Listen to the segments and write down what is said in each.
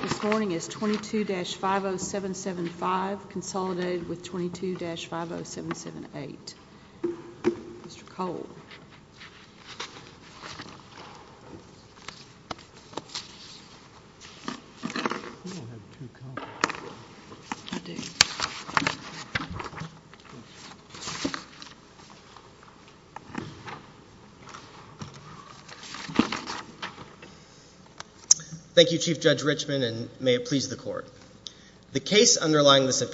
This morning is 22-50775 consolidated with 22-50778. Mr. Cole. Thank you, Chief Judge Richmond, and may it please the Court. The case underlying this of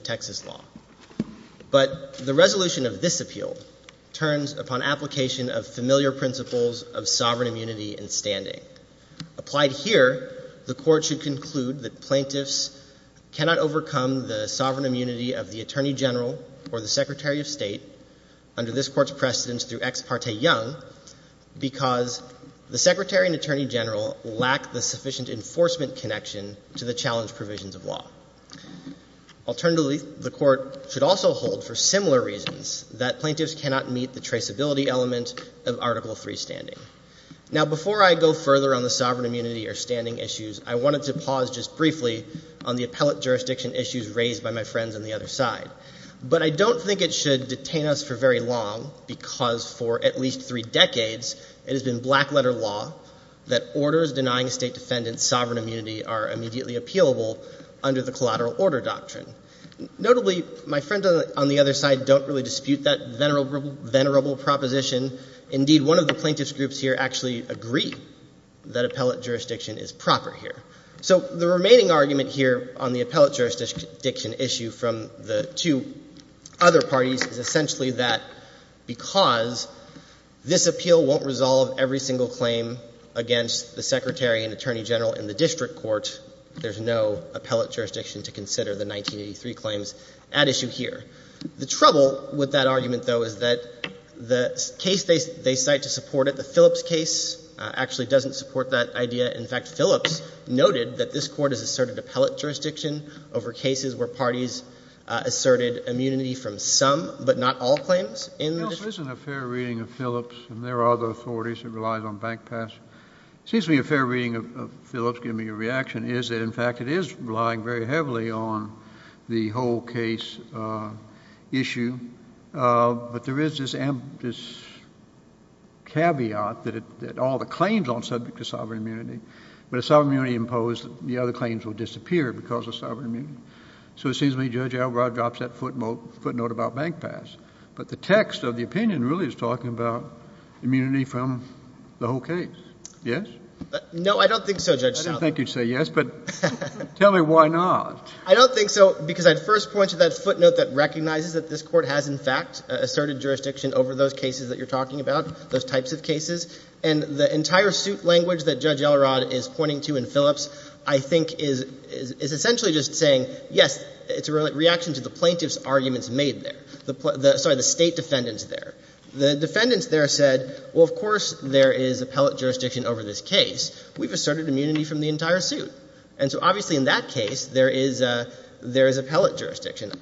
Texas law. But the resolution of this appeal turns upon application of familiar principles of sovereign immunity and standing. Applied here, the Court should conclude that plaintiffs cannot overcome the sovereign immunity of the Attorney General or the Secretary of State under this Court's precedence through Ex parte Young because the Secretary and Attorney the challenge provisions of law. Alternatively, the Court should also hold for similar reasons that plaintiffs cannot meet the traceability element of Article III standing. Now, before I go further on the sovereign immunity or standing issues, I wanted to pause just briefly on the appellate jurisdiction issues raised by my friends on the other side. But I don't think it should detain us for very long because for at least three decades, it has been black immediately appealable under the collateral order doctrine. Notably, my friends on the other side don't really dispute that venerable proposition. Indeed, one of the plaintiffs groups here actually agree that appellate jurisdiction is proper here. So the remaining argument here on the appellate jurisdiction issue from the two other parties is essentially that because this appeal won't resolve every single claim against the Secretary and Attorney General in the district court, there's no appellate jurisdiction to consider the 1983 claims at issue here. The trouble with that argument, though, is that the case they cite to support it, the Phillips case, actually doesn't support that idea. In fact, Phillips noted that this Court has asserted appellate jurisdiction over cases where parties asserted immunity from some, but not all, claims in the district court. There isn't a fair reading of Phillips, and there are other authorities that rely on bank pass. It seems to me a fair reading of Phillips giving me a reaction is that, in fact, it is relying very heavily on the whole case issue. But there is this caveat that all the claims aren't subject to sovereign immunity. But if sovereign immunity is imposed, the other claims will disappear because of sovereign immunity. So it seems to me Judge Elrod drops that footnote about bank pass. But the text of the opinion really is talking about immunity from the whole case. Yes? No, I don't think so, Judge Southup. I didn't think you'd say yes, but tell me why not. I don't think so because I'd first point to that footnote that recognizes that this Court has, in fact, asserted jurisdiction over those cases that you're talking about, those types of cases. And the entire suit language that Judge Elrod is pointing to in Phillips,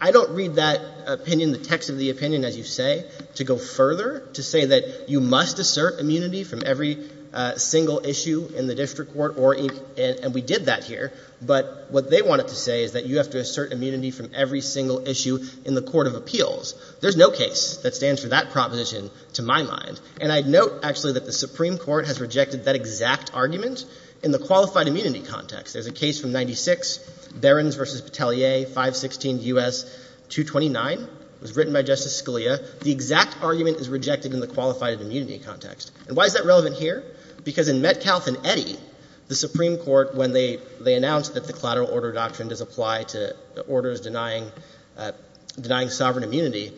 I don't read that opinion, the text of the opinion, as you say, to go further, to say that you must assert immunity from every single issue in the district court, and we did that here, but what they wanted to say is that you have to assert immunity from every single issue in the Court of Appeals. There's no case that stands for that proposition to my mind. And I'd note, actually, that the Supreme Court has rejected that exact argument in the qualified immunity context. There's a case from 96, Barons v. Petallier, 516 U.S. 229. It was written by Justice Scalia. The exact argument is rejected in the qualified immunity context. And why is that relevant here? Because in Metcalfe and Eddy, the Supreme Court, when they announced that the collateral order doctrine does apply to orders denying sovereign immunity,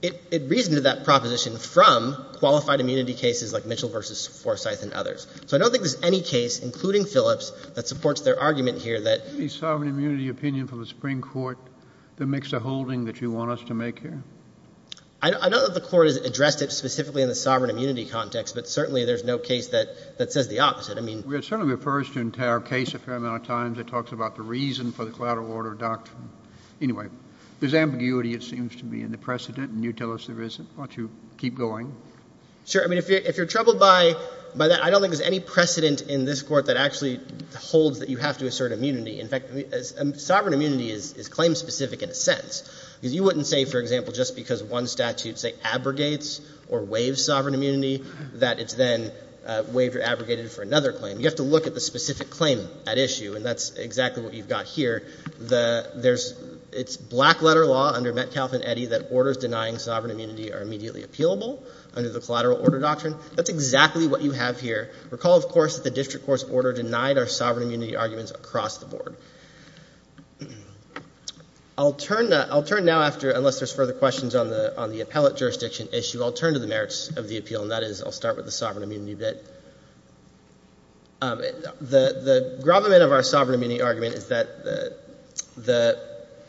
it reasoned to that proposition from qualified immunity cases like Mitchell v. Forsyth and others. So I don't think there's any case, including Phillips, that supports their argument here that — Can you give me sovereign immunity opinion from the Supreme Court, the mix of holding that you want us to make here? I know that the Court has addressed it specifically in the sovereign immunity context, but certainly there's no case that says the opposite. I mean — It certainly refers to an entire case a fair amount of times. It talks about the reason for the collateral order doctrine. Anyway, there's ambiguity, it seems, to be in the precedent, and you tell us there isn't. Why don't you keep going? Sure. I mean, if you're troubled by that, I don't think there's any precedent in this Court that actually holds that you have to assert immunity. In fact, sovereign immunity is claim-specific in a sense, because you wouldn't say, for example, just because one statute, say, abrogates or waives sovereign immunity that it's then waived or abrogated for another claim. You have to look at the specific claim at issue, and that's exactly what you've got here. There's — it's black-letter law under Metcalf and Eddy that orders denying sovereign immunity are immediately appealable under the collateral order doctrine. That's exactly what you have here. Recall, of course, that the district court's order denied our sovereign immunity arguments across the board. I'll turn now after — unless there's further questions on the appellate jurisdiction issue, I'll turn to the merits of the appeal, and that is I'll start with the sovereign immunity argument, is that the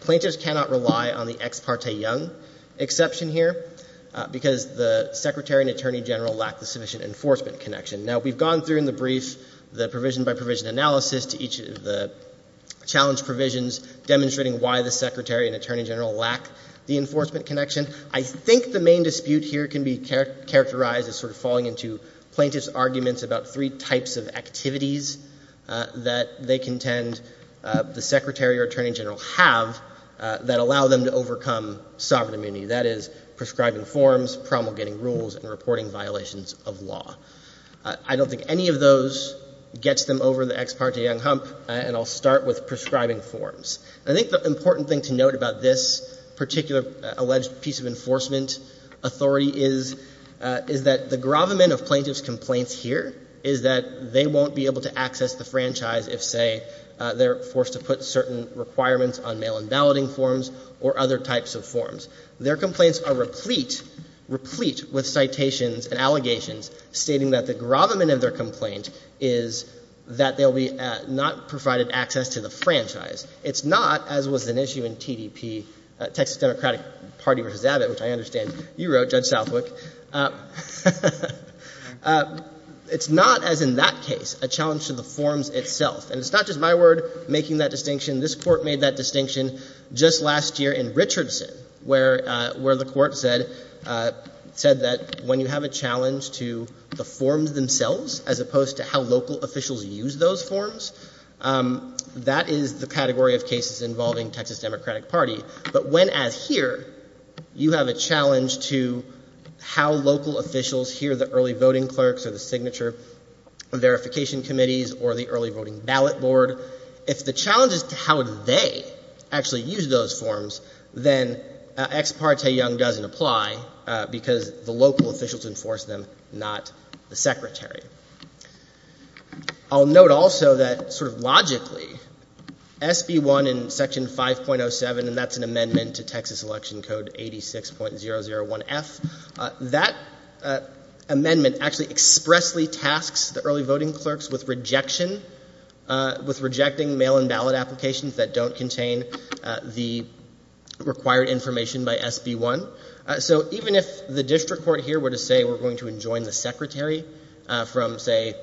plaintiffs cannot rely on the ex parte Young exception here because the secretary and attorney general lack the sufficient enforcement connection. Now, we've gone through in the brief the provision-by-provision analysis to each of the challenge provisions demonstrating why the secretary and attorney general lack the enforcement connection. I think the main dispute here can be characterized as sort of falling into plaintiffs' arguments about three types of activities that they intend the secretary or attorney general have that allow them to overcome sovereign immunity, that is, prescribing forms, promulgating rules, and reporting violations of law. I don't think any of those gets them over the ex parte Young hump, and I'll start with prescribing forms. I think the important thing to note about this particular alleged piece of enforcement authority is, is that the gravamen of plaintiffs' complaints here is that they won't be able to access the franchise if, say, they're forced to put certain requirements on mail-in balloting forms or other types of forms. Their complaints are replete with citations and allegations stating that the gravamen of their complaint is that they'll be not provided access to the franchise. It's not, as was an issue in TDP, Texas Democratic Party v. Abbott, which I understand is a challenge to the forms itself. And it's not just my word making that distinction. This Court made that distinction just last year in Richardson, where, where the Court said, said that when you have a challenge to the forms themselves as opposed to how local officials use those forms, that is the category of cases involving Texas Democratic Party. But when, as here, you have a challenge to how local officials hear the early voting clerks or the signature verification committees or the early voting ballot board, if the challenge is to how they actually use those forms, then Ex Parte Young doesn't apply because the local officials enforce them, not the secretary. I'll note also that, sort of logically, SB 1 in Section 5.07, and that's an amendment to Texas Election Code 86.001F, that amendment actually acts as an amendment to Section 5.07 and expressly tasks the early voting clerks with rejection, with rejecting mail-in ballot applications that don't contain the required information by SB 1. So even if the district court here were to say, we're going to enjoin the secretary from, say,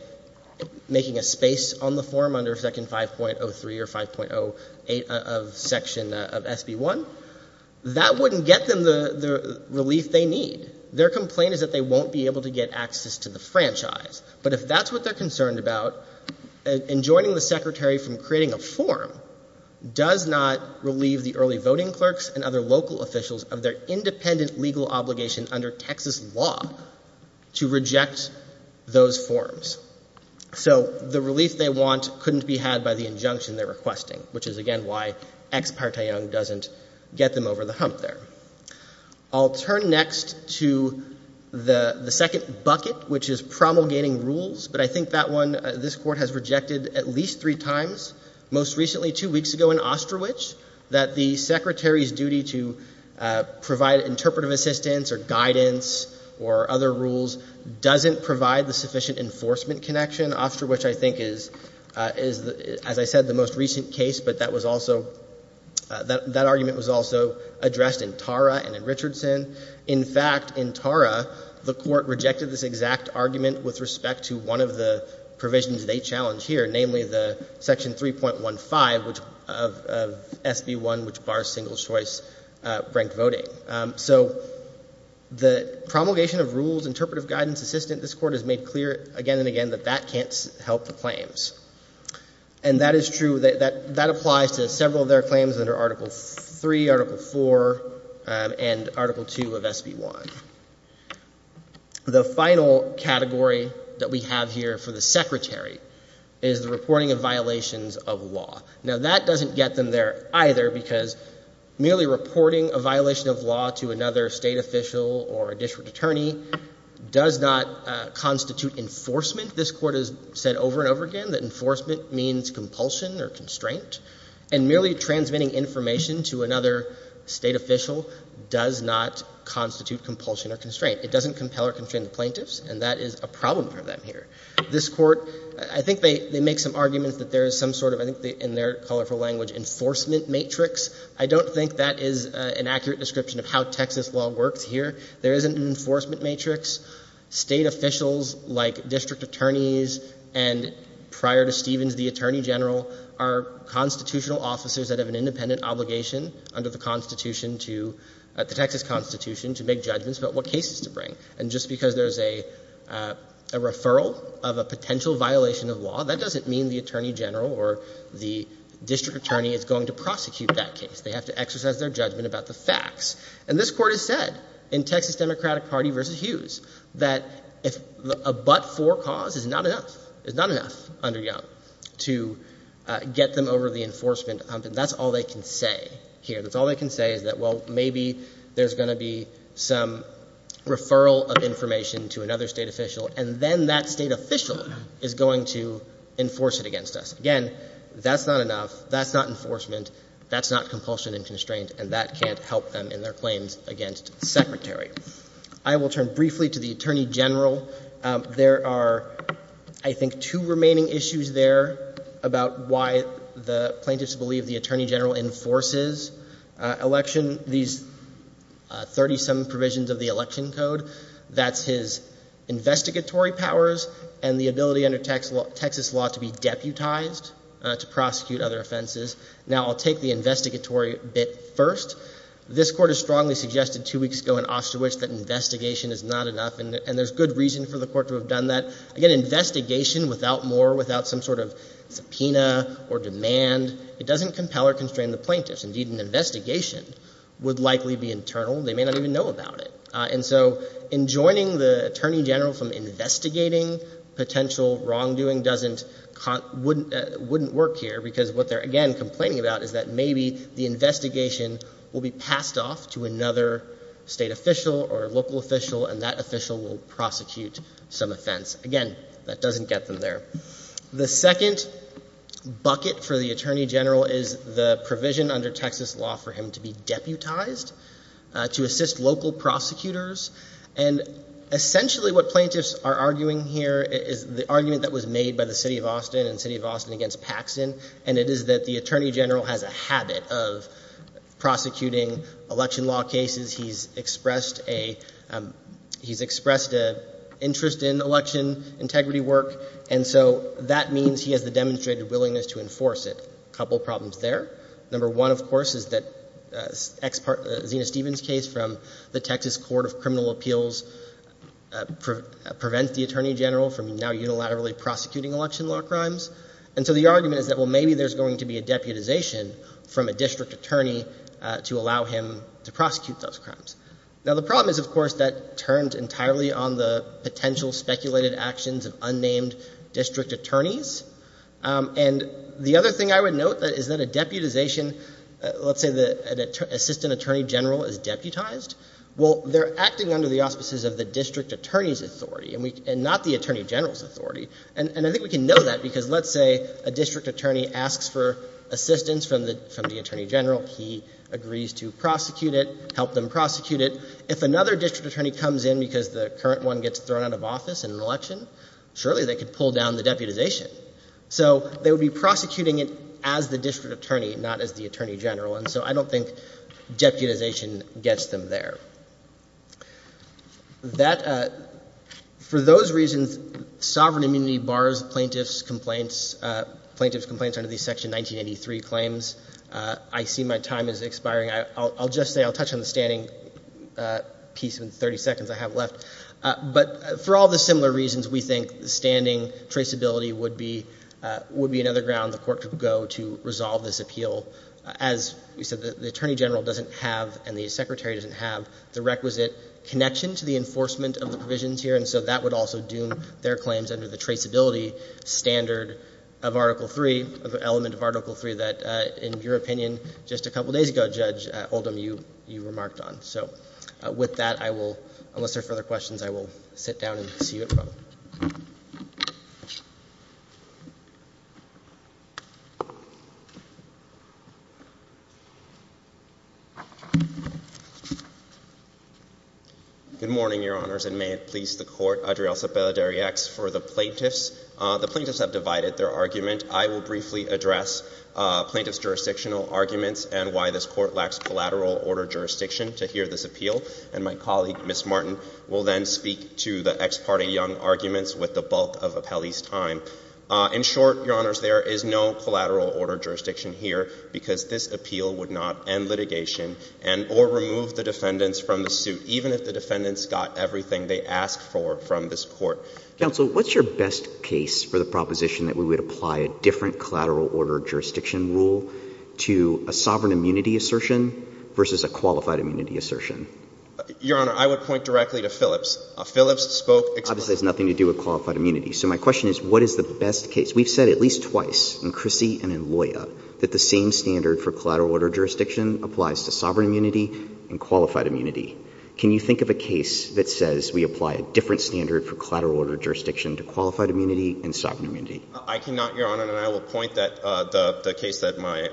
making a space on the form under Section 5.03 or 5.08 of Section, of SB 1, that wouldn't get them the, the relief they need. Their complaint is that they won't be able to get access to the franchise. But if that's what they're concerned about, enjoining the secretary from creating a form does not relieve the early voting clerks and other local officials of their independent legal obligation under Texas law to reject those forms. So the relief they want couldn't be had by the injunction they're requesting, which is, again, why Ex Parte Young doesn't get them over the hump there. I'll turn next to the, the second bucket, which is promulgating rules. But I think that one, this Court has rejected at least three times, most recently two weeks ago in Osterwich, that the secretary's duty to provide interpretive assistance or guidance or other rules doesn't provide the sufficient enforcement connection. Osterwich, I think, is, is, as I said, the most recent case, but that was also, that, that argument was also addressed in Tara and in Richardson. In fact, in Tara, the Court rejected this exact argument with respect to one of the provisions they challenge here, namely the Section 3.15, which, of, of SB 1, which bars single-choice ranked voting. So the promulgation of rules, interpretive guidance, assistant, this Court has made clear again and again that that can't help the claims. And that is true, that, that, that applies to several of their claims under Article 3, Article 4, and Article 2 of SB 1. The final category that we have here for the secretary is the reporting of violations of law. Now, that doesn't get them there either, because merely reporting a violation of law to another state official or a district attorney does not constitute enforcement. This Court has said over and over again that enforcement means compulsion or constraint. And merely transmitting information to another state official does not constitute compulsion or constraint. It doesn't compel or constrain the plaintiffs, and that is a problem for them here. This Court, I think they, they make some arguments that there is some sort of, I think in their colorful language, enforcement matrix. I don't think that is an accurate description of how Texas law works here. There is an enforcement matrix. State officials, like district attorneys, and prior to Stevens, the attorney general, are constitutional officers that have an independent obligation under the Constitution to, the Texas Constitution, to make judgments about what cases to bring. And just because there's a, a referral of a potential violation of law, that doesn't mean the attorney general or the district attorney is going to prosecute that case. They have to exercise their judgment about the facts. And this Court has said, in Texas Democratic Party v. Hughes, that if a but-for cause is not enough, is not enough under YUM to get them over the enforcement hump, and that's all they can say here. That's all they can say is that, well, maybe there's going to be some referral of information to another State official, and then that State official is going to enforce it against us. Again, that's not enough. That's not enforcement. That's not compulsion and constraint, and that can't help them in their claims against the Secretary. I will turn briefly to the attorney general. There are, I think, two remaining issues there about why the plaintiffs believe the attorney general enforces election, these 30-some provisions of the Election Code. That's his investigatory powers and the ability under Texas law to be deputized to prosecute other offenses. Now, I'll take the investigatory bit first. This Court has strongly suggested two weeks ago in Osterwich that investigation is not enough, and there's good reason for the Court to have done that. Again, investigation without more, without some sort of subpoena or demand, it doesn't compel or constrain the plaintiffs. Indeed, an investigation would likely be internal. They may not even know about it. And so enjoining the attorney general from investigating potential wrongdoing wouldn't work here, because what they're, again, complaining about is that maybe the investigation will be passed off to another State official or local official, and that official will prosecute some offense. Again, that doesn't get them there. The second bucket for the attorney general is the provision under Texas law for him to be deputized to assist local prosecutors. And essentially what plaintiffs are arguing here is the argument that was made by the City of Austin and City of Austin against Paxton, and it is that the attorney general has a habit of prosecuting election law cases. He's expressed a, he's expressed an interest in election integrity work, and so that means he has the demonstrated willingness to enforce it. A couple of problems there. Number one, of course, is that ex-part, Zina Stevens' case from the Texas Court of Criminal Appeals prevents the attorney general from now unilaterally prosecuting election law crimes. And so the argument is that, well, maybe there's going to be a deputization from a district attorney to allow him to prosecute those crimes. Now, the problem is, of course, that turns entirely on the potential speculated actions of unnamed district attorneys. And the other thing I would note is that a deputization, let's say that an assistant attorney general is deputized, well, they're acting under the auspices of the district attorney's authority and not the attorney general's authority. And I think we can know that because let's say a district attorney asks for assistance from the attorney general. He agrees to prosecute it, help them prosecute it. If another district attorney comes in because the current one gets thrown out of office in an election, surely they could pull down the deputization. So they would be prosecuting it as the district attorney, not as the attorney general, and so I don't think deputization gets them there. That, for those reasons, sovereign immunity bars plaintiff's complaints, plaintiff's complaints under the section 1983 claims. I see my time is expiring. I'll just say, I'll touch on the standing piece in the 30 seconds I have left. But for all the similar reasons, we think the standing traceability would be another ground the court could go to resolve this appeal. As we said, the attorney general doesn't have and the secretary doesn't have the requisite connection to the enforcement of the provisions here, and so that would also doom their claims under the traceability standard of Article 3, of the element of Article 3 that, in your opinion, just a couple of days ago, Judge Oldham, you remarked on. So with that, I will, unless there are further questions, I will sit down and see you at pro. Good morning, Your Honors, and may it please the Court, Adriel Cepeda-Darriax, for the plaintiffs. The plaintiffs have divided their argument. I will briefly address plaintiff's jurisdictional arguments and why this Court lacks collateral order jurisdiction to hear this appeal, and my colleague, Ms. Martin, will then speak to the ex parte young arguments with the bulk of Appelli's time. In short, Your Honors, there is no collateral order jurisdiction here because this appeal would not end litigation and or remove the defendants from the suit, even if the defendants got everything they asked for from this Court. Counsel, what's your best case for the proposition that we would apply a different collateral order jurisdiction rule to a sovereign immunity assertion versus a qualified immunity assertion? Your Honor, I would point directly to Phillips. Phillips spoke explicitly. Obviously, it has nothing to do with qualified immunity. So my question is what is the best case? We've said at least twice in Crissy and in Loya that the same standard for collateral order jurisdiction applies to sovereign immunity and qualified immunity. Can you think of a case that says we apply a different standard for collateral order jurisdiction to qualified immunity and sovereign immunity? I cannot, Your Honor, and I will point that the case that my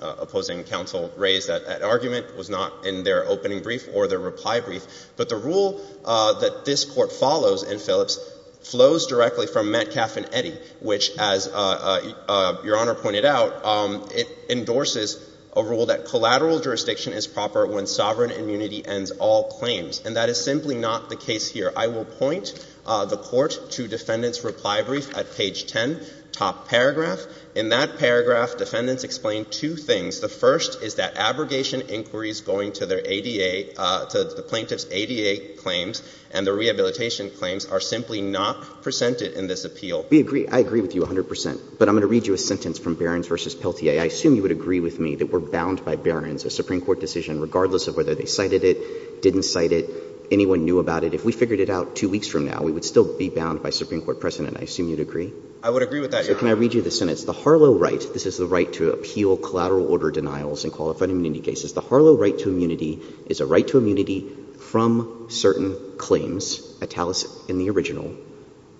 opposing counsel raised, that argument was not in their opening brief or their reply brief, but the rule that this Court follows in Phillips flows directly from Metcalf and Phillips, which, as Your Honor pointed out, it endorses a rule that collateral jurisdiction is proper when sovereign immunity ends all claims. And that is simply not the case here. I will point the Court to defendants' reply brief at page 10, top paragraph. In that paragraph, defendants explain two things. The first is that abrogation inquiries going to their ADA, to the plaintiff's ADA claims and the rehabilitation claims are simply not presented in this appeal. We agree. I agree with you 100 percent. But I'm going to read you a sentence from Behrens v. Pelletier. I assume you would agree with me that we're bound by Behrens, a Supreme Court decision, regardless of whether they cited it, didn't cite it, anyone knew about it. If we figured it out two weeks from now, we would still be bound by Supreme Court precedent. I assume you'd agree? I would agree with that, Your Honor. So can I read you the sentence? The Harlow right, this is the right to appeal collateral order denials in qualified immunity cases. The Harlow right to immunity is a right to immunity from certain claims, italicized in the original,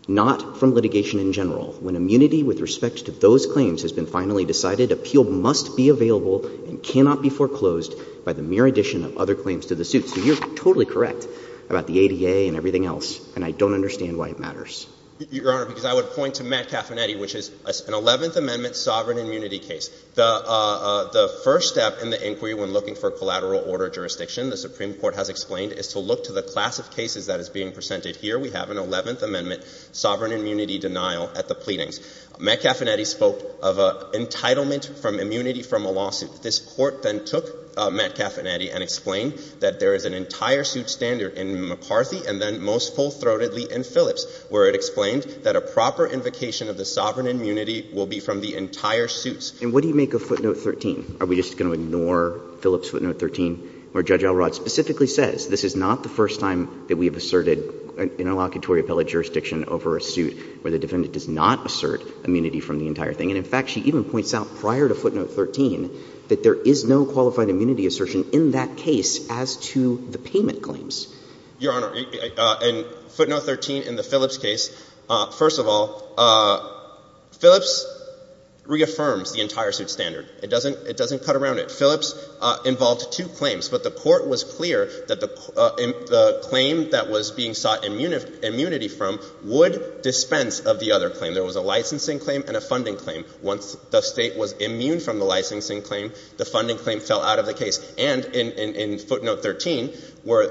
not from litigation in general. When immunity with respect to those claims has been finally decided, appeal must be available and cannot be foreclosed by the mere addition of other claims to the suit. So you're totally correct about the ADA and everything else, and I don't understand why it matters. Your Honor, because I would point to Matt Caffenetti, which is an 11th Amendment sovereign immunity case. The first step in the inquiry when looking for collateral order jurisdiction, the Supreme Court has explained, is to look to the class of cases that is being presented here. We have an 11th Amendment sovereign immunity denial at the pleadings. Matt Caffenetti spoke of entitlement from immunity from a lawsuit. This Court then took Matt Caffenetti and explained that there is an entire suit standard in McCarthy and then most full-throatedly in Phillips, where it explained that a proper invocation of the sovereign immunity will be from the entire suits. And what do you make of footnote 13? Are we just going to ignore Phillips footnote 13, where Judge Elrod specifically says this is not the first time that we have asserted an inelocutory appellate jurisdiction over a suit where the defendant does not assert immunity from the entire thing? And in fact, she even points out prior to footnote 13 that there is no qualified immunity assertion in that case as to the payment claims. Your Honor, in footnote 13 in the Phillips case, first of all, Phillips reaffirms the entire suit standard. It doesn't cut around it. Phillips involved two claims, but the Court was clear that the claim that was being sought immunity from would dispense of the other claim. There was a licensing claim and a funding claim. Once the State was immune from the licensing claim, the funding claim fell out of the case. And in footnote 13, where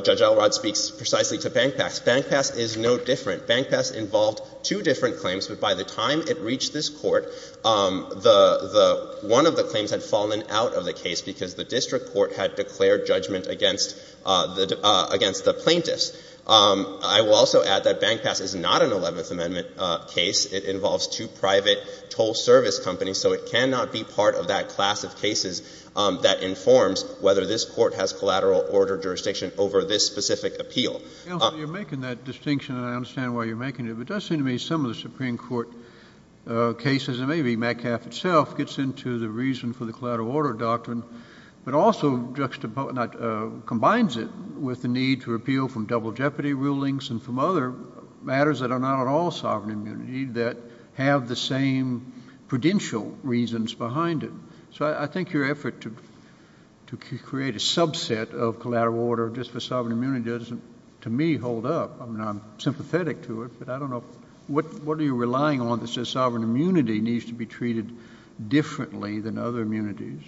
Judge Elrod speaks precisely to BankPass, BankPass is no different. BankPass involved two different claims, but by the time it reached this Court, the one of the claims had fallen out of the case because the district court had declared judgment against the plaintiffs. I will also add that BankPass is not an Eleventh Amendment case. It involves two private toll service companies, so it cannot be part of that class of cases that informs whether this Court has collateral order jurisdiction over this specific appeal. You're making that distinction, and I understand why you're making it, but it does seem to me some of the Supreme Court cases, and maybe Metcalf itself, gets into the reason for the collateral order doctrine, but also combines it with the need to repeal from double jeopardy rulings and from other matters that are not at all sovereign immunity that have the same prudential reasons behind it. So I think your effort to create a collateral order doctrine should, to me, hold up. I mean, I'm sympathetic to it, but I don't know, what are you relying on that says sovereign immunity needs to be treated differently than other immunities,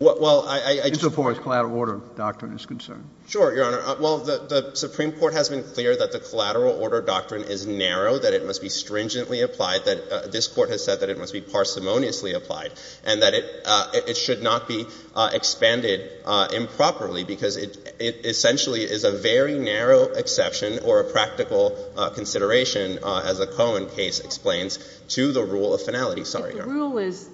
insofar as collateral order doctrine is concerned? Sure, Your Honor. Well, the Supreme Court has been clear that the collateral order doctrine is narrow, that it must be stringently applied, that this Court has said that it must be parsimoniously applied, and that it should not be expanded improperly because it essentially is a very narrow exception or a practical consideration, as the Cohen case explains, to the rule of finality. Sorry, Your Honor. But the rule is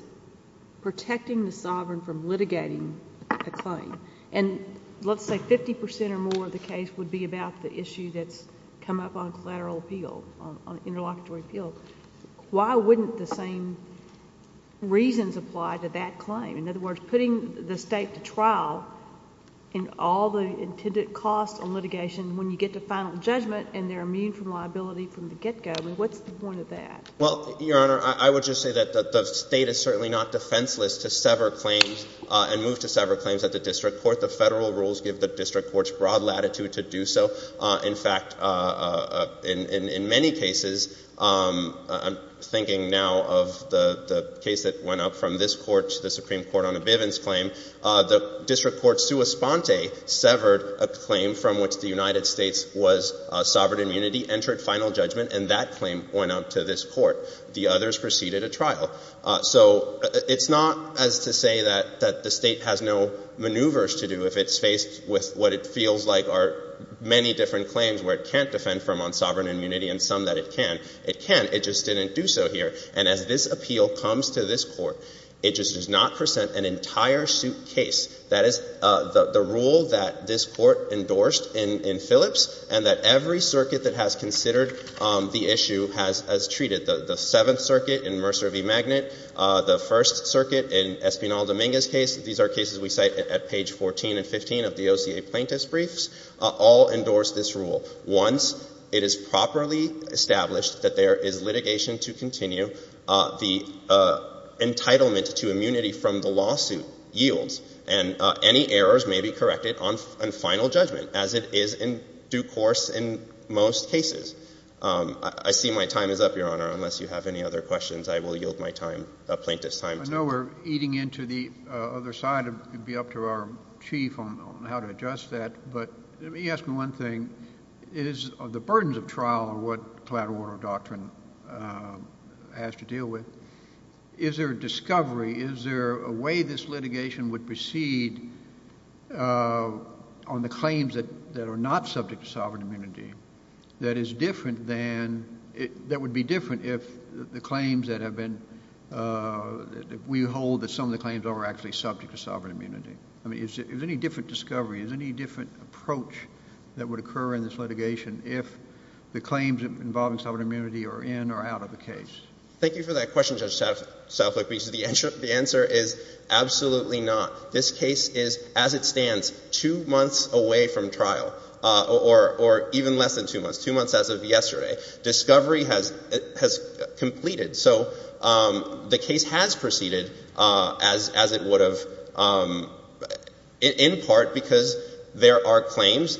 protecting the sovereign from litigating a claim. And let's say 50 percent or more of the case would be about the issue that's come up on collateral appeal, on interlocutory appeal. Why wouldn't the same reasons apply to that claim? In other words, putting the State to trial in all the intended costs on litigation when you get to final judgment and they're immune from liability from the get-go, I mean, what's the point of that? Well, Your Honor, I would just say that the State is certainly not defenseless to sever claims and move to sever claims at the district court. The Federal rules give the district courts broad latitude to do so. In fact, in many cases, I'm thinking now of the case that went up from this Court to the Supreme Court on a Bivens claim. The district court sua sponte severed a claim from which the United States was sovereign immunity, entered final judgment, and that claim went up to this Court. The others preceded a trial. So it's not as to say that the State has no maneuvers to do if it's faced with what it feels like are many different claims where it can't defend from on sovereign immunity and some that it can. It can. It just didn't do so here. And as this appeal comes to this Court, it just does not present an entire suit case. That is the rule that this Court endorsed in Phillips and that every circuit that has considered the issue has treated. The Seventh Circuit in Mercer v. Magnet, the First Circuit in Espinal Dominguez's case, these are cases we cite at page 14 and 15 of the OCA plaintiff's briefs, all endorsed this rule. Once it is properly established that there is litigation to continue, the entitlement to immunity from the lawsuit yields and any errors may be corrected on final judgment as it is in due course in most cases. I see my time is up, Your Honor. Unless you have any other questions, I will yield my time, the plaintiff's time. I know we're eating into the other side. It would be up to our Chief on how to adjust that. But let me ask you one thing. Is the burdens of trial what collateral order doctrine has to deal with? Is there a discovery, is there a way this litigation would succeed on the claims that are not subject to sovereign immunity that is different than, that would be different if the claims that have been, we hold that some of the claims are actually subject to sovereign immunity? I mean, is there any different discovery, is there any different approach that would occur in this litigation if the claims involving sovereign immunity are in or out of the case? Thank you for that question, Judge Southwick, because the answer is absolutely not. This case is, as it stands, two months away from trial, or even less than two months, two months as of yesterday. Discovery has completed. So the case has proceeded as it would have, in part because there are claims,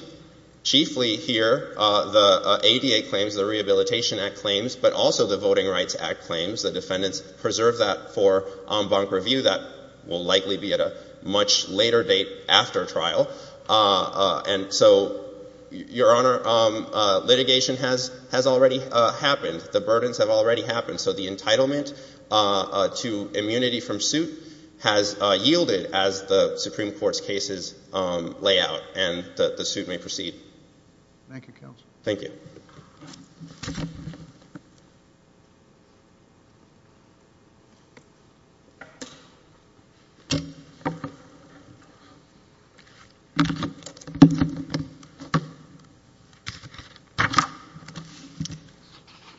chiefly here the ADA claims, the Rehabilitation Act claims, but also the Voting Rights Act claims. The defendants preserve that for en banc review. That will likely be at a much later date after trial. And so, Your Honor, litigation has already happened. The burdens have already happened. So the entitlement to immunity from suit has yielded as the Supreme Court's cases lay out, and the suit may proceed. Thank you, Counsel. Thank you.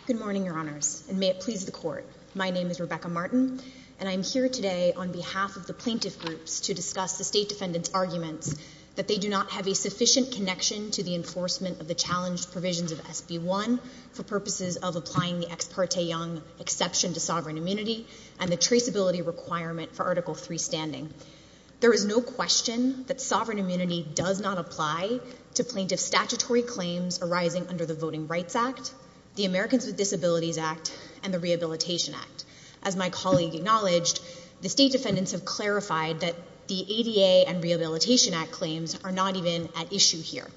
Good morning, Your Honors, and may it please the Court. My name is Rebecca Martin, and I am here today on behalf of the plaintiff groups to discuss the State Defendant's arguments that they do not have a sufficient connection to the enforcement of the challenged provisions of SB 1 for purposes of applying the Ex Parte Young exception to sovereign immunity and the traceability requirement for Article 3 standing. There is no question that sovereign immunity does not apply to plaintiff statutory claims arising under the Voting Rights Act, the Americans with Disabilities Act, and the Rehabilitation Act. As my colleague acknowledged, the State Defendants have clarified that the ADA and Rehabilitation Act claims are not even at issue here.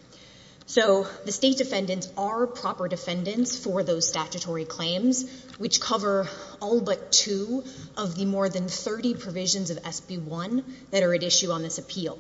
So the State Defendants are proper defendants for those statutory claims, which cover all but two of the more than 30 provisions of SB 1 that are at issue on this appeal.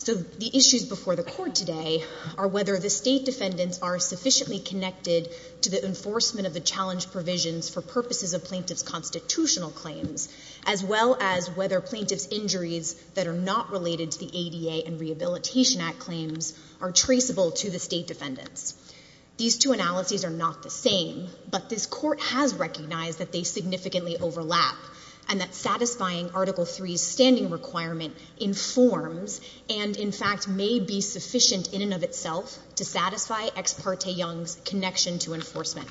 So the issues before the Court today are whether the State Defendants are sufficiently connected to the enforcement of the challenged provisions for purposes of plaintiff's constitutional claims, as well as whether plaintiff's injuries that are not related to the ADA and Rehabilitation Act claims are traceable to the State Defendants. These two analyses are not the same, but this Court has recognized that they significantly overlap and that satisfying Article 3's standing requirement informs and, in fact, may be sufficient in and of itself to satisfy Ex Parte Young's connection to enforcement.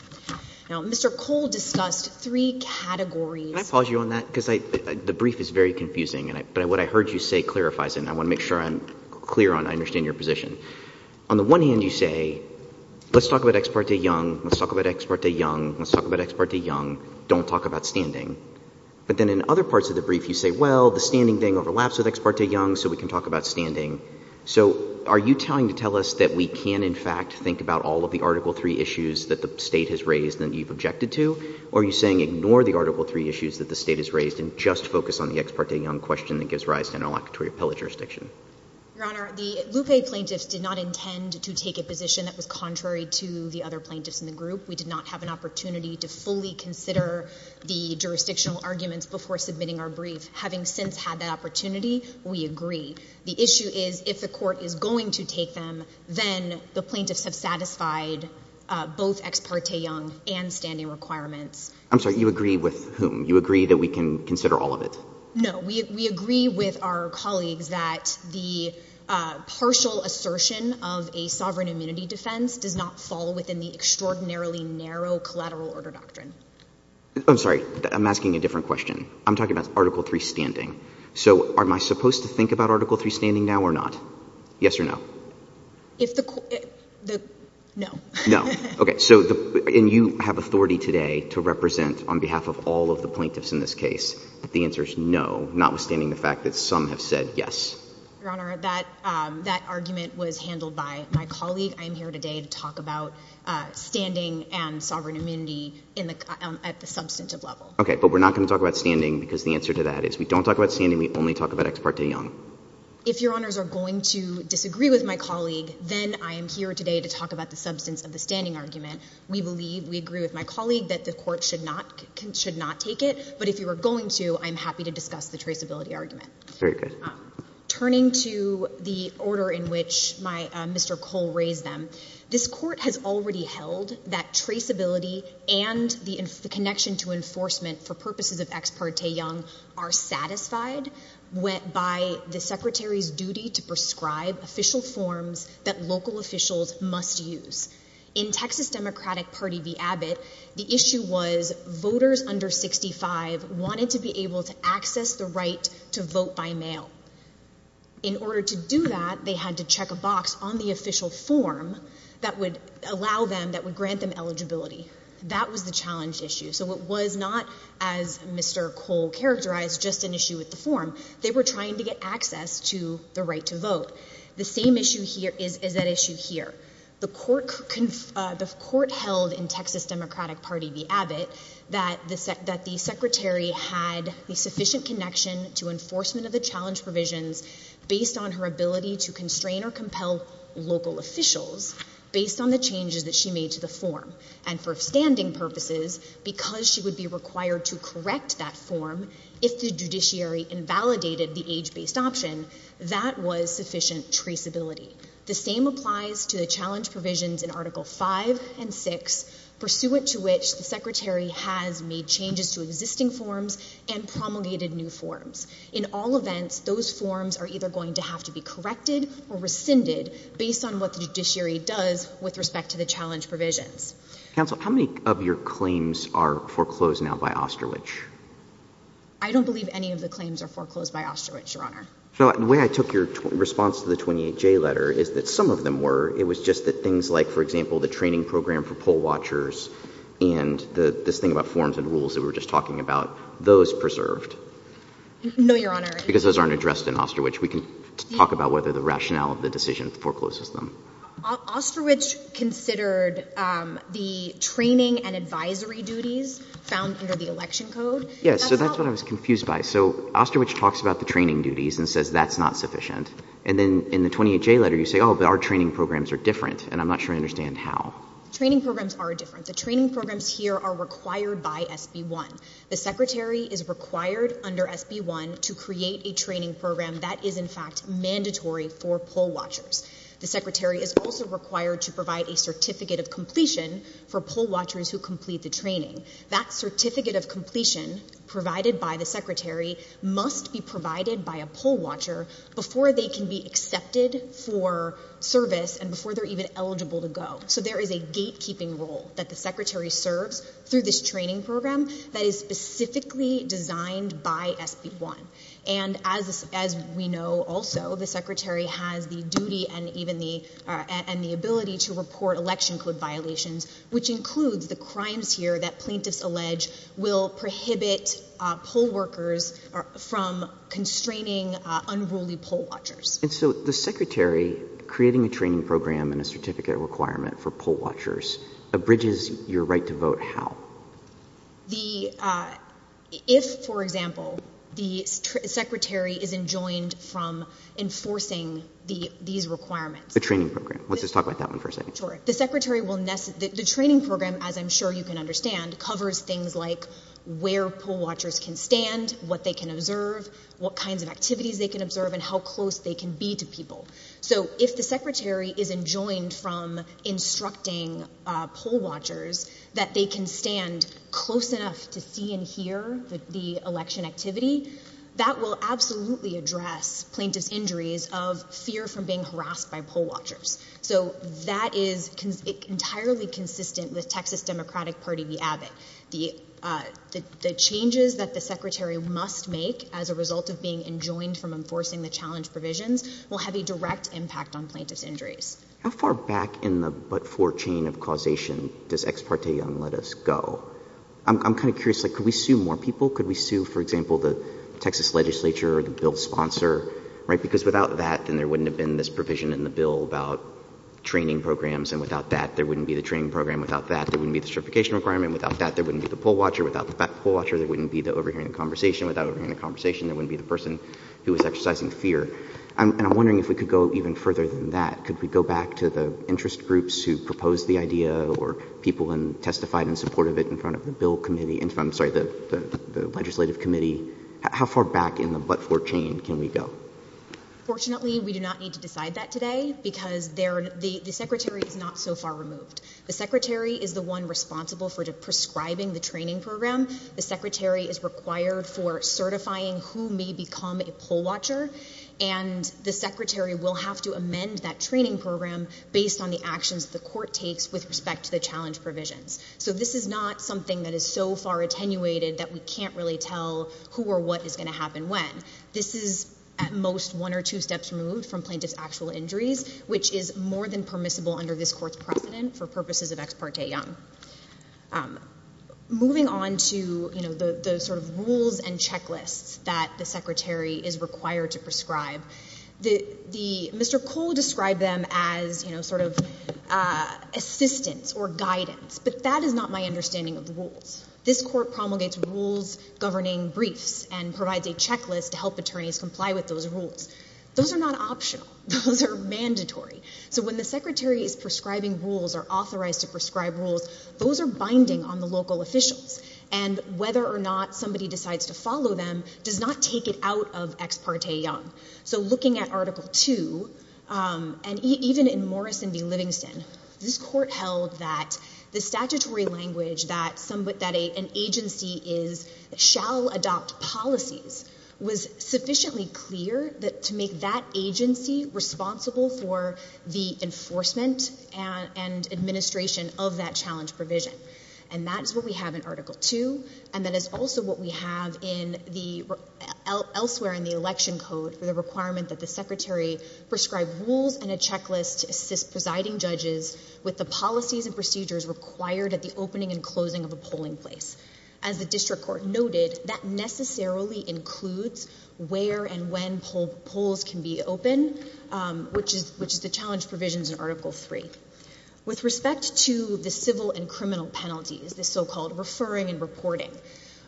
Now, Mr. Cole discussed three categories. Can I pause you on that? Because the brief is very confusing, but what I heard you say clarifies it, and I want to make sure I'm clear on it, I understand your position. On the one hand, you say, let's talk about Ex Parte Young, let's talk about Ex Parte Young, let's talk about Ex Parte Young, don't talk about standing. But then in other parts of the brief, you say, well, the standing thing overlaps with Ex Parte Young, so we can talk about standing. So are you telling to tell us that we can, in fact, think about all of the Article 3 issues that the State has raised and that you've objected to, or are you saying ignore the Article 3 issues that the State has raised and just focus on the Ex Parte Young question that gives rise to interlocutory appellate jurisdiction? Your Honor, the Lupe plaintiffs did not intend to take a position that was contrary to the other plaintiffs in the group. We did not have an opportunity to fully consider the jurisdictional arguments before submitting our brief. Having since had that opportunity, we agree. The issue is, if the Court is going to take them, then the plaintiffs have satisfied both Ex Parte Young and standing requirements. I'm sorry, you agree with whom? You agree that we can consider all of it? No. We agree with our colleagues that the partial assertion of a sovereign immunity defense does not fall within the extraordinarily narrow collateral order doctrine. I'm sorry, I'm asking a different question. I'm talking about Article 3 standing. So am I supposed to think about Article 3 standing now or not? Yes or no? No. No. Okay, so you have authority today to represent on behalf of all of the plaintiffs in this case. The answer is no, notwithstanding the fact that some have said yes. Your Honor, that argument was handled by my colleague. I'm here today to talk about standing and sovereign immunity at the substantive level. Okay, but we're not going to talk about standing because the answer to that is we don't talk about standing, we only talk about Ex Parte Young. If Your Honors are going to disagree with my colleague, then I am here today to talk about the substance of the standing argument. We believe, we agree with my colleague that the Court should not take it, but if you are going to, I'm happy to discuss the traceability argument. Very good. Turning to the order in which Mr. Cole raised them, this Court has already held that traceability and the connection to enforcement for purposes of Ex Parte Young are satisfied by the Secretary's duty to prescribe official forms that local officials must use. In Texas Democratic Party v. Abbott, the issue was voters under 65 wanted to be able to access the right to vote by mail. In order to do that, they had to check a box on the official form that would allow them, that would grant them eligibility. That was the challenge issue. So it was not, as Mr. Cole characterized, just an issue with the form. They were trying to get access to the right to vote. The same issue here is that issue here. The Court held in Texas Democratic Party v. Abbott that the Secretary had a sufficient connection to enforcement of the challenge provisions based on her ability to constrain or compel local officials, based on the changes that she made to the form. And for standing purposes, because she would be required to correct that form if the judiciary invalidated the age-based option, that was sufficient traceability. The same applies to the challenge provisions in Article V and VI, pursuant to which the Secretary has made changes to existing forms and promulgated new forms. In all events, those forms are either going to have to be corrected or rescinded based on what the judiciary does with respect to the challenge provisions. Counsel, how many of your claims are foreclosed now by Osterwich? I don't believe any of the claims are foreclosed by Osterwich, Your Honor. The way I took your response to the 28J letter is that some of them were. It was just that things like, for example, the training program for poll watchers and this thing about forms and rules that we were just talking about, those preserved. No, Your Honor. Because those aren't addressed in Osterwich. We can talk about whether the rationale of the decision forecloses them. Osterwich considered the training and advisory duties found under the election code. Yes, so that's what I was confused by. So Osterwich talks about the training duties and says that's not sufficient. And then in the 28J letter you say, oh, but our training programs are different, and I'm not sure I understand how. Training programs are different. The training programs here are required by SB 1. The Secretary is required under SB 1 to create a training program that is in fact mandatory for poll watchers. The Secretary is also required to provide a certificate of completion for poll watchers who complete the training. That certificate of completion provided by the Secretary must be provided by a poll watcher before they can be accepted for service and before they're even eligible to go. So there is a gatekeeping role that the Secretary serves through this training program that is specifically designed by SB 1. And as we know also, the Secretary has the duty and even the ability to report election code violations, which includes the crimes here that plaintiffs allege will prohibit poll workers from constraining unruly poll watchers. And so the Secretary creating a training program and a certificate requirement for poll watchers abridges your right to vote how? If, for example, the Secretary is enjoined from enforcing these requirements. The training program. Let's just talk about that one for a second. Sure. The training program, as I'm sure you can understand, covers things like where poll watchers can stand, what they can observe, what kinds of activities they can observe, and how close they can be to people. So if the Secretary is enjoined from instructing poll watchers that they can stand close enough to see and hear the election activity, that will absolutely address plaintiffs' injuries of fear from being harassed by poll watchers. So that is entirely consistent with Texas Democratic Party v. Abbott. The changes that the Secretary must make as a result of being enjoined from enforcing the challenge provisions will have a direct impact on plaintiffs' injuries. How far back in the but-for chain of causation does Ex parte Young let us go? I'm kind of curious. Could we sue more people? Could we sue, for example, the Texas legislature or the bill sponsor? Because without that, then there wouldn't have been this provision in the bill about training programs. And without that, there wouldn't be the training program. Without that, there wouldn't be the certification requirement. Without that, there wouldn't be the poll watcher. Without the poll watcher, there wouldn't be the overhearing the conversation. Without overhearing the conversation, there wouldn't be the person who was exercising fear. And I'm wondering if we could go even further than that. Could we go back to the interest groups who proposed the idea or people who testified in support of it in front of the legislative committee? How far back in the but-for chain can we go? Fortunately, we do not need to decide that today because the Secretary is not so far removed. The Secretary is the one responsible for prescribing the training program. The Secretary is required for certifying who may become a poll watcher. And the Secretary will have to amend that training program based on the actions the court takes with respect to the challenge provisions. So this is not something that is so far attenuated that we can't really tell who or what is going to happen when. This is at most one or two steps removed from plaintiff's actual injuries, which is more than permissible under this court's precedent for purposes of Ex Parte Young. Moving on to the sort of rules and checklists that the Secretary is required to prescribe, Mr. Cole described them as sort of assistance or guidance. But that is not my understanding of the rules. This court promulgates rules governing briefs and provides a checklist to help attorneys comply with those rules. Those are not optional. Those are mandatory. So when the Secretary is prescribing rules or authorized to prescribe rules, those are binding on the local officials. And whether or not somebody decides to follow them does not take it out of Ex Parte Young. So looking at Article 2, and even in Morrison v. Livingston, this court held that the statutory language that an agency shall adopt policies was sufficiently clear to make that agency responsible for the enforcement and administration of that challenge provision. And that is what we have in Article 2, and that is also what we have elsewhere in the Election Code for the requirement that the Secretary prescribe rules and a checklist to assist presiding judges with the policies and procedures required at the opening and closing of a polling place. As the district court noted, that necessarily includes where and when polls can be open, which is the challenge provisions in Article 3. With respect to the civil and criminal penalties, the so-called referring and reporting,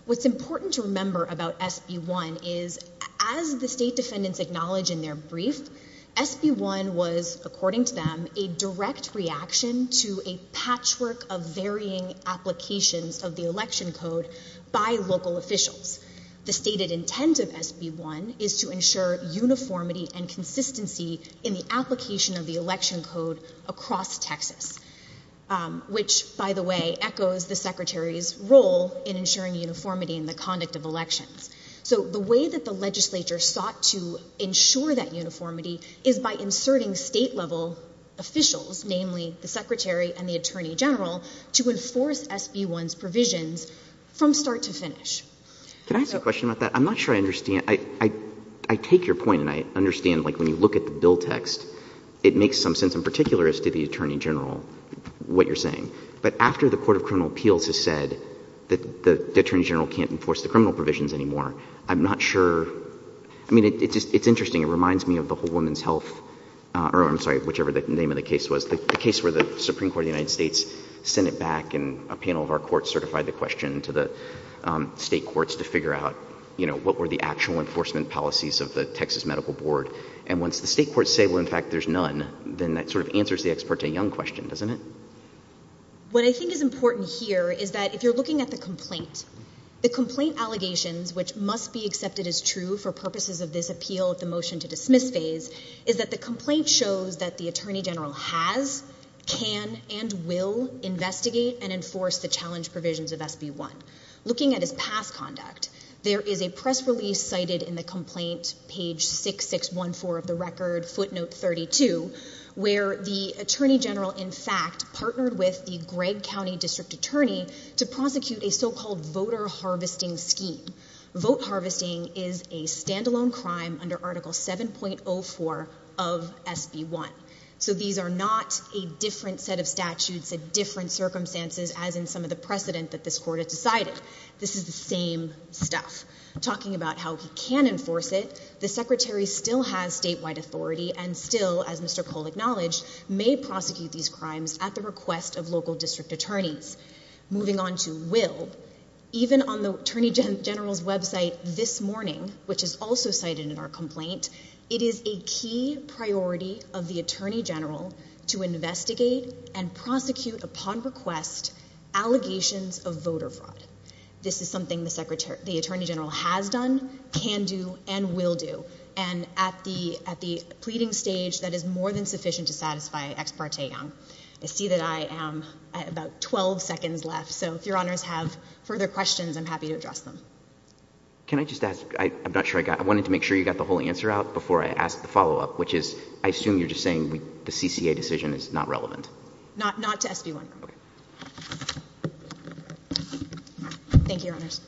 what's important to remember about SB 1 is as the state defendants acknowledge in their brief, SB 1 was, according to them, a direct reaction to a patchwork of varying applications of the Election Code by local officials. The stated intent of SB 1 is to ensure uniformity and consistency in the application of the Election Code across Texas, which, by the way, echoes the Secretary's role in ensuring uniformity in the conduct of elections. So the way that the legislature sought to ensure that uniformity is by inserting state-level officials, namely the Secretary and the Attorney General, to enforce SB 1's provisions from start to finish. Can I ask a question about that? I'm not sure I understand. I take your point and I understand, like, when you look at the bill text, it makes some sense in particular as to the Attorney General, what you're saying. But after the Court of Criminal Appeals has said that the Attorney General can't enforce the criminal provisions anymore, I'm not sure. I mean, it's interesting. It reminds me of the Whole Woman's Health, or I'm sorry, whichever the name of the case was, the case where the Supreme Court of the United States sent it back and a panel of our courts certified the question to the state courts to figure out, you know, what were the actual enforcement policies of the Texas Medical Board. And once the state courts say, well, in fact, there's none, then that sort of answers the Ex parte Young question, doesn't it? What I think is important here is that if you're looking at the complaint, the complaint allegations, which must be accepted as true for purposes of this appeal at the motion to dismiss phase, is that the complaint shows that the Attorney General has, can, and will investigate and enforce the challenge provisions of SB 1. Looking at his past conduct, there is a press release cited in the complaint, page 6614 of the record, footnote 32, where the Attorney General, in fact, partnered with the Gregg County District Attorney to prosecute a so-called voter harvesting scheme. Vote harvesting is a standalone crime under Article 7.04 of SB 1. So these are not a different set of statutes, a different circumstances, as in some of the precedent that this court has decided. This is the same stuff. Talking about how he can enforce it, the Secretary still has statewide authority and still, as Mr. Cole acknowledged, may prosecute these crimes at the request of local district attorneys. Moving on to will, even on the Attorney General's website this morning, which is also cited in our complaint, it is a key priority of the Attorney General to investigate and prosecute upon request allegations of voter fraud. This is something the Attorney General has done, can do, and will do. And at the pleading stage, that is more than sufficient to satisfy Ex Parte Young. I see that I am about 12 seconds left, so if Your Honors have further questions, I'm happy to address them. Can I just ask, I'm not sure I got, I wanted to make sure you got the whole answer out before I asked the follow-up, which is, I assume you're just saying the CCA decision is not relevant. Not to SB 1. Thank you, Your Honors.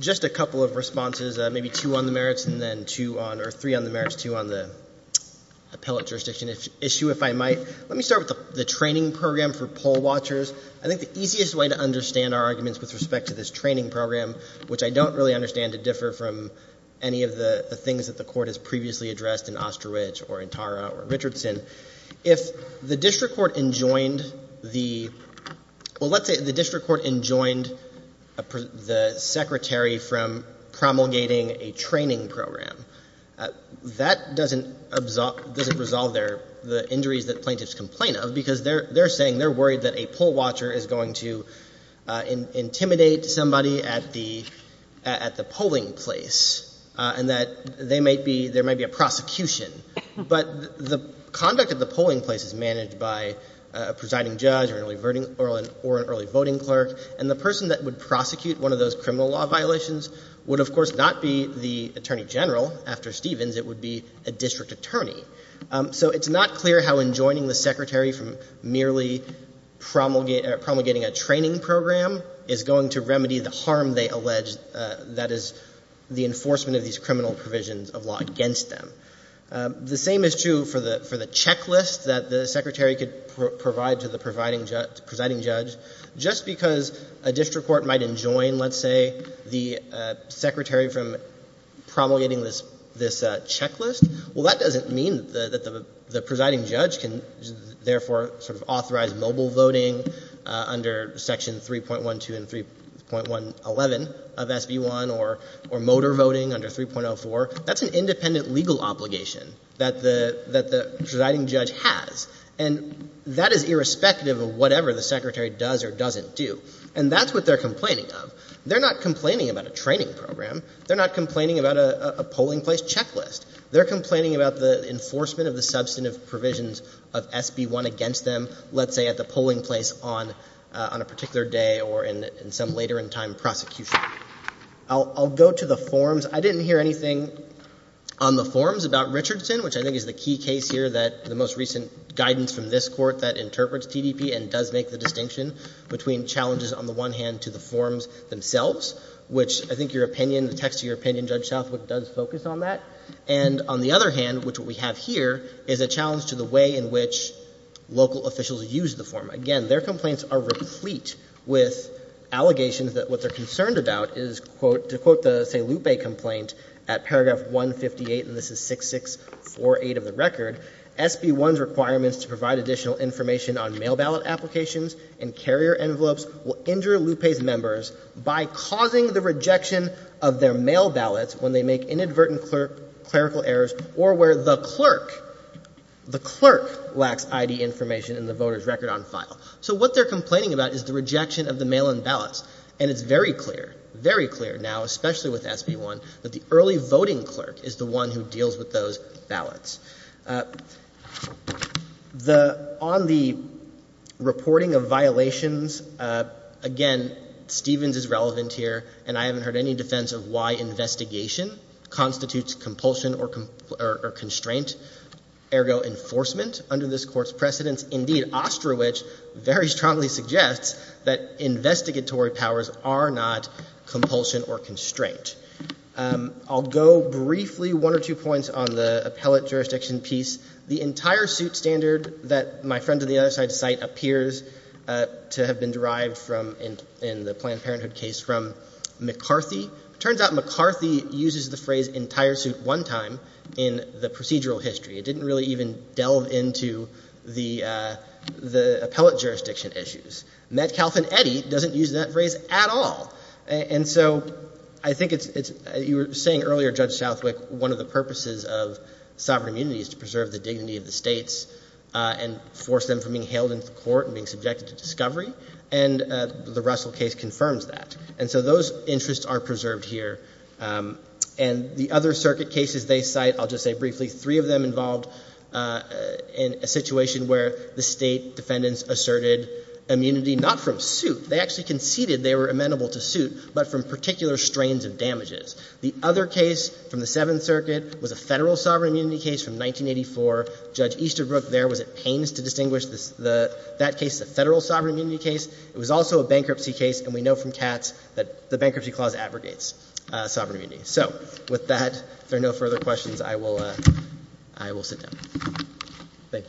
Just a couple of responses, maybe two on the merits and then two on, or three on the merits, two on the appellate jurisdiction issue, if I might. Let me start with the training program for poll watchers. I think the easiest way to understand our arguments with respect to this training program, which I don't really understand to differ from any of the things that the Court has previously addressed in Osterwich or in Tara or Richardson, if the district court enjoined the, well, let's say the district court enjoined the secretary from promulgating a training program, that doesn't resolve the injuries that plaintiffs complain of, because they're saying they're worried that a poll watcher is going to intimidate somebody at the polling place and that they might be, there might be a prosecution. But the conduct at the polling place is managed by a presiding judge or an early voting clerk, and the person that would prosecute one of those criminal law violations would, of course, not be the attorney general. After Stevens, it would be a district attorney. So it's not clear how enjoining the secretary from merely promulgating a training program is going to remedy the harm they allege that is the enforcement of these criminal provisions of law against them. The same is true for the checklist that the secretary could provide to the presiding judge. Just because a district court might enjoin, let's say, the secretary from promulgating this checklist, well, that doesn't mean that the presiding judge can, therefore, sort of authorize mobile voting under Section 3.12 and 3.11 of SB 1 or motor voting under 3.04. That's an independent legal obligation that the presiding judge has, and that is irrespective of whatever the secretary does or doesn't do. And that's what they're complaining of. They're not complaining about a training program. They're not complaining about a polling place checklist. They're complaining about the enforcement of the substantive provisions of SB 1 against them, let's say, at the polling place on a particular day or in some later-in-time prosecution. I'll go to the forms. I didn't hear anything on the forms about Richardson, which I think is the key case here, that the most recent guidance from this Court that interprets TDP and does make the distinction between challenges on the one hand to the forms themselves, which I think your opinion, the text of your opinion, Judge Southwick, does focus on that, and on the other hand, which what we have here is a challenge to the way in which local officials use the form. Again, their complaints are replete with allegations that what they're concerned about is, to quote the, say, Lupe complaint at paragraph 158, and this is 6-6-4-8 of the record, SB 1's requirements to provide additional information on mail ballot applications and carrier envelopes will injure Lupe's members by causing the rejection of their mail ballots when they make inadvertent clerical errors or where the clerk, the clerk lacks ID information in the voter's record on file. So what they're complaining about is the rejection of the mail-in ballots, and it's very clear, very clear now, especially with SB 1, that the early voting clerk is the one who deals with those ballots. The, on the reporting of violations, again, Stevens is relevant here, and I haven't heard any defense of why investigation constitutes compulsion or constraint, ergo enforcement under this Court's precedence. Indeed, Ostrowich very strongly suggests that investigatory powers are not compulsion or constraint. I'll go briefly one or two points on the appellate jurisdiction piece. The entire suit standard that my friend on the other side of the site appears to have been derived from, in the Planned Parenthood case, from McCarthy. It turns out McCarthy uses the phrase entire suit one time in the procedural history. It didn't really even delve into the appellate jurisdiction issues. Metcalfe and Eddy doesn't use that phrase at all. And so I think it's, you were saying earlier, Judge Southwick, one of the purposes of sovereign immunity is to preserve the dignity of the states and force them from being hailed into court and being subjected to discovery, and the Russell case confirms that. And so those interests are preserved here. And the other circuit cases they cite, I'll just say briefly, three of them involved in a situation where the state defendants asserted immunity, not from suit. They actually conceded they were amenable to suit, but from particular strains of damages. The other case from the Seventh Circuit was a federal sovereign immunity case from 1984. Judge Easterbrook there was at pains to distinguish that case as a federal sovereign immunity case. It was also a bankruptcy case, and we know from Katz that the bankruptcy clause abrogates sovereign immunity. So with that, if there are no further questions, I will sit down. Thank you.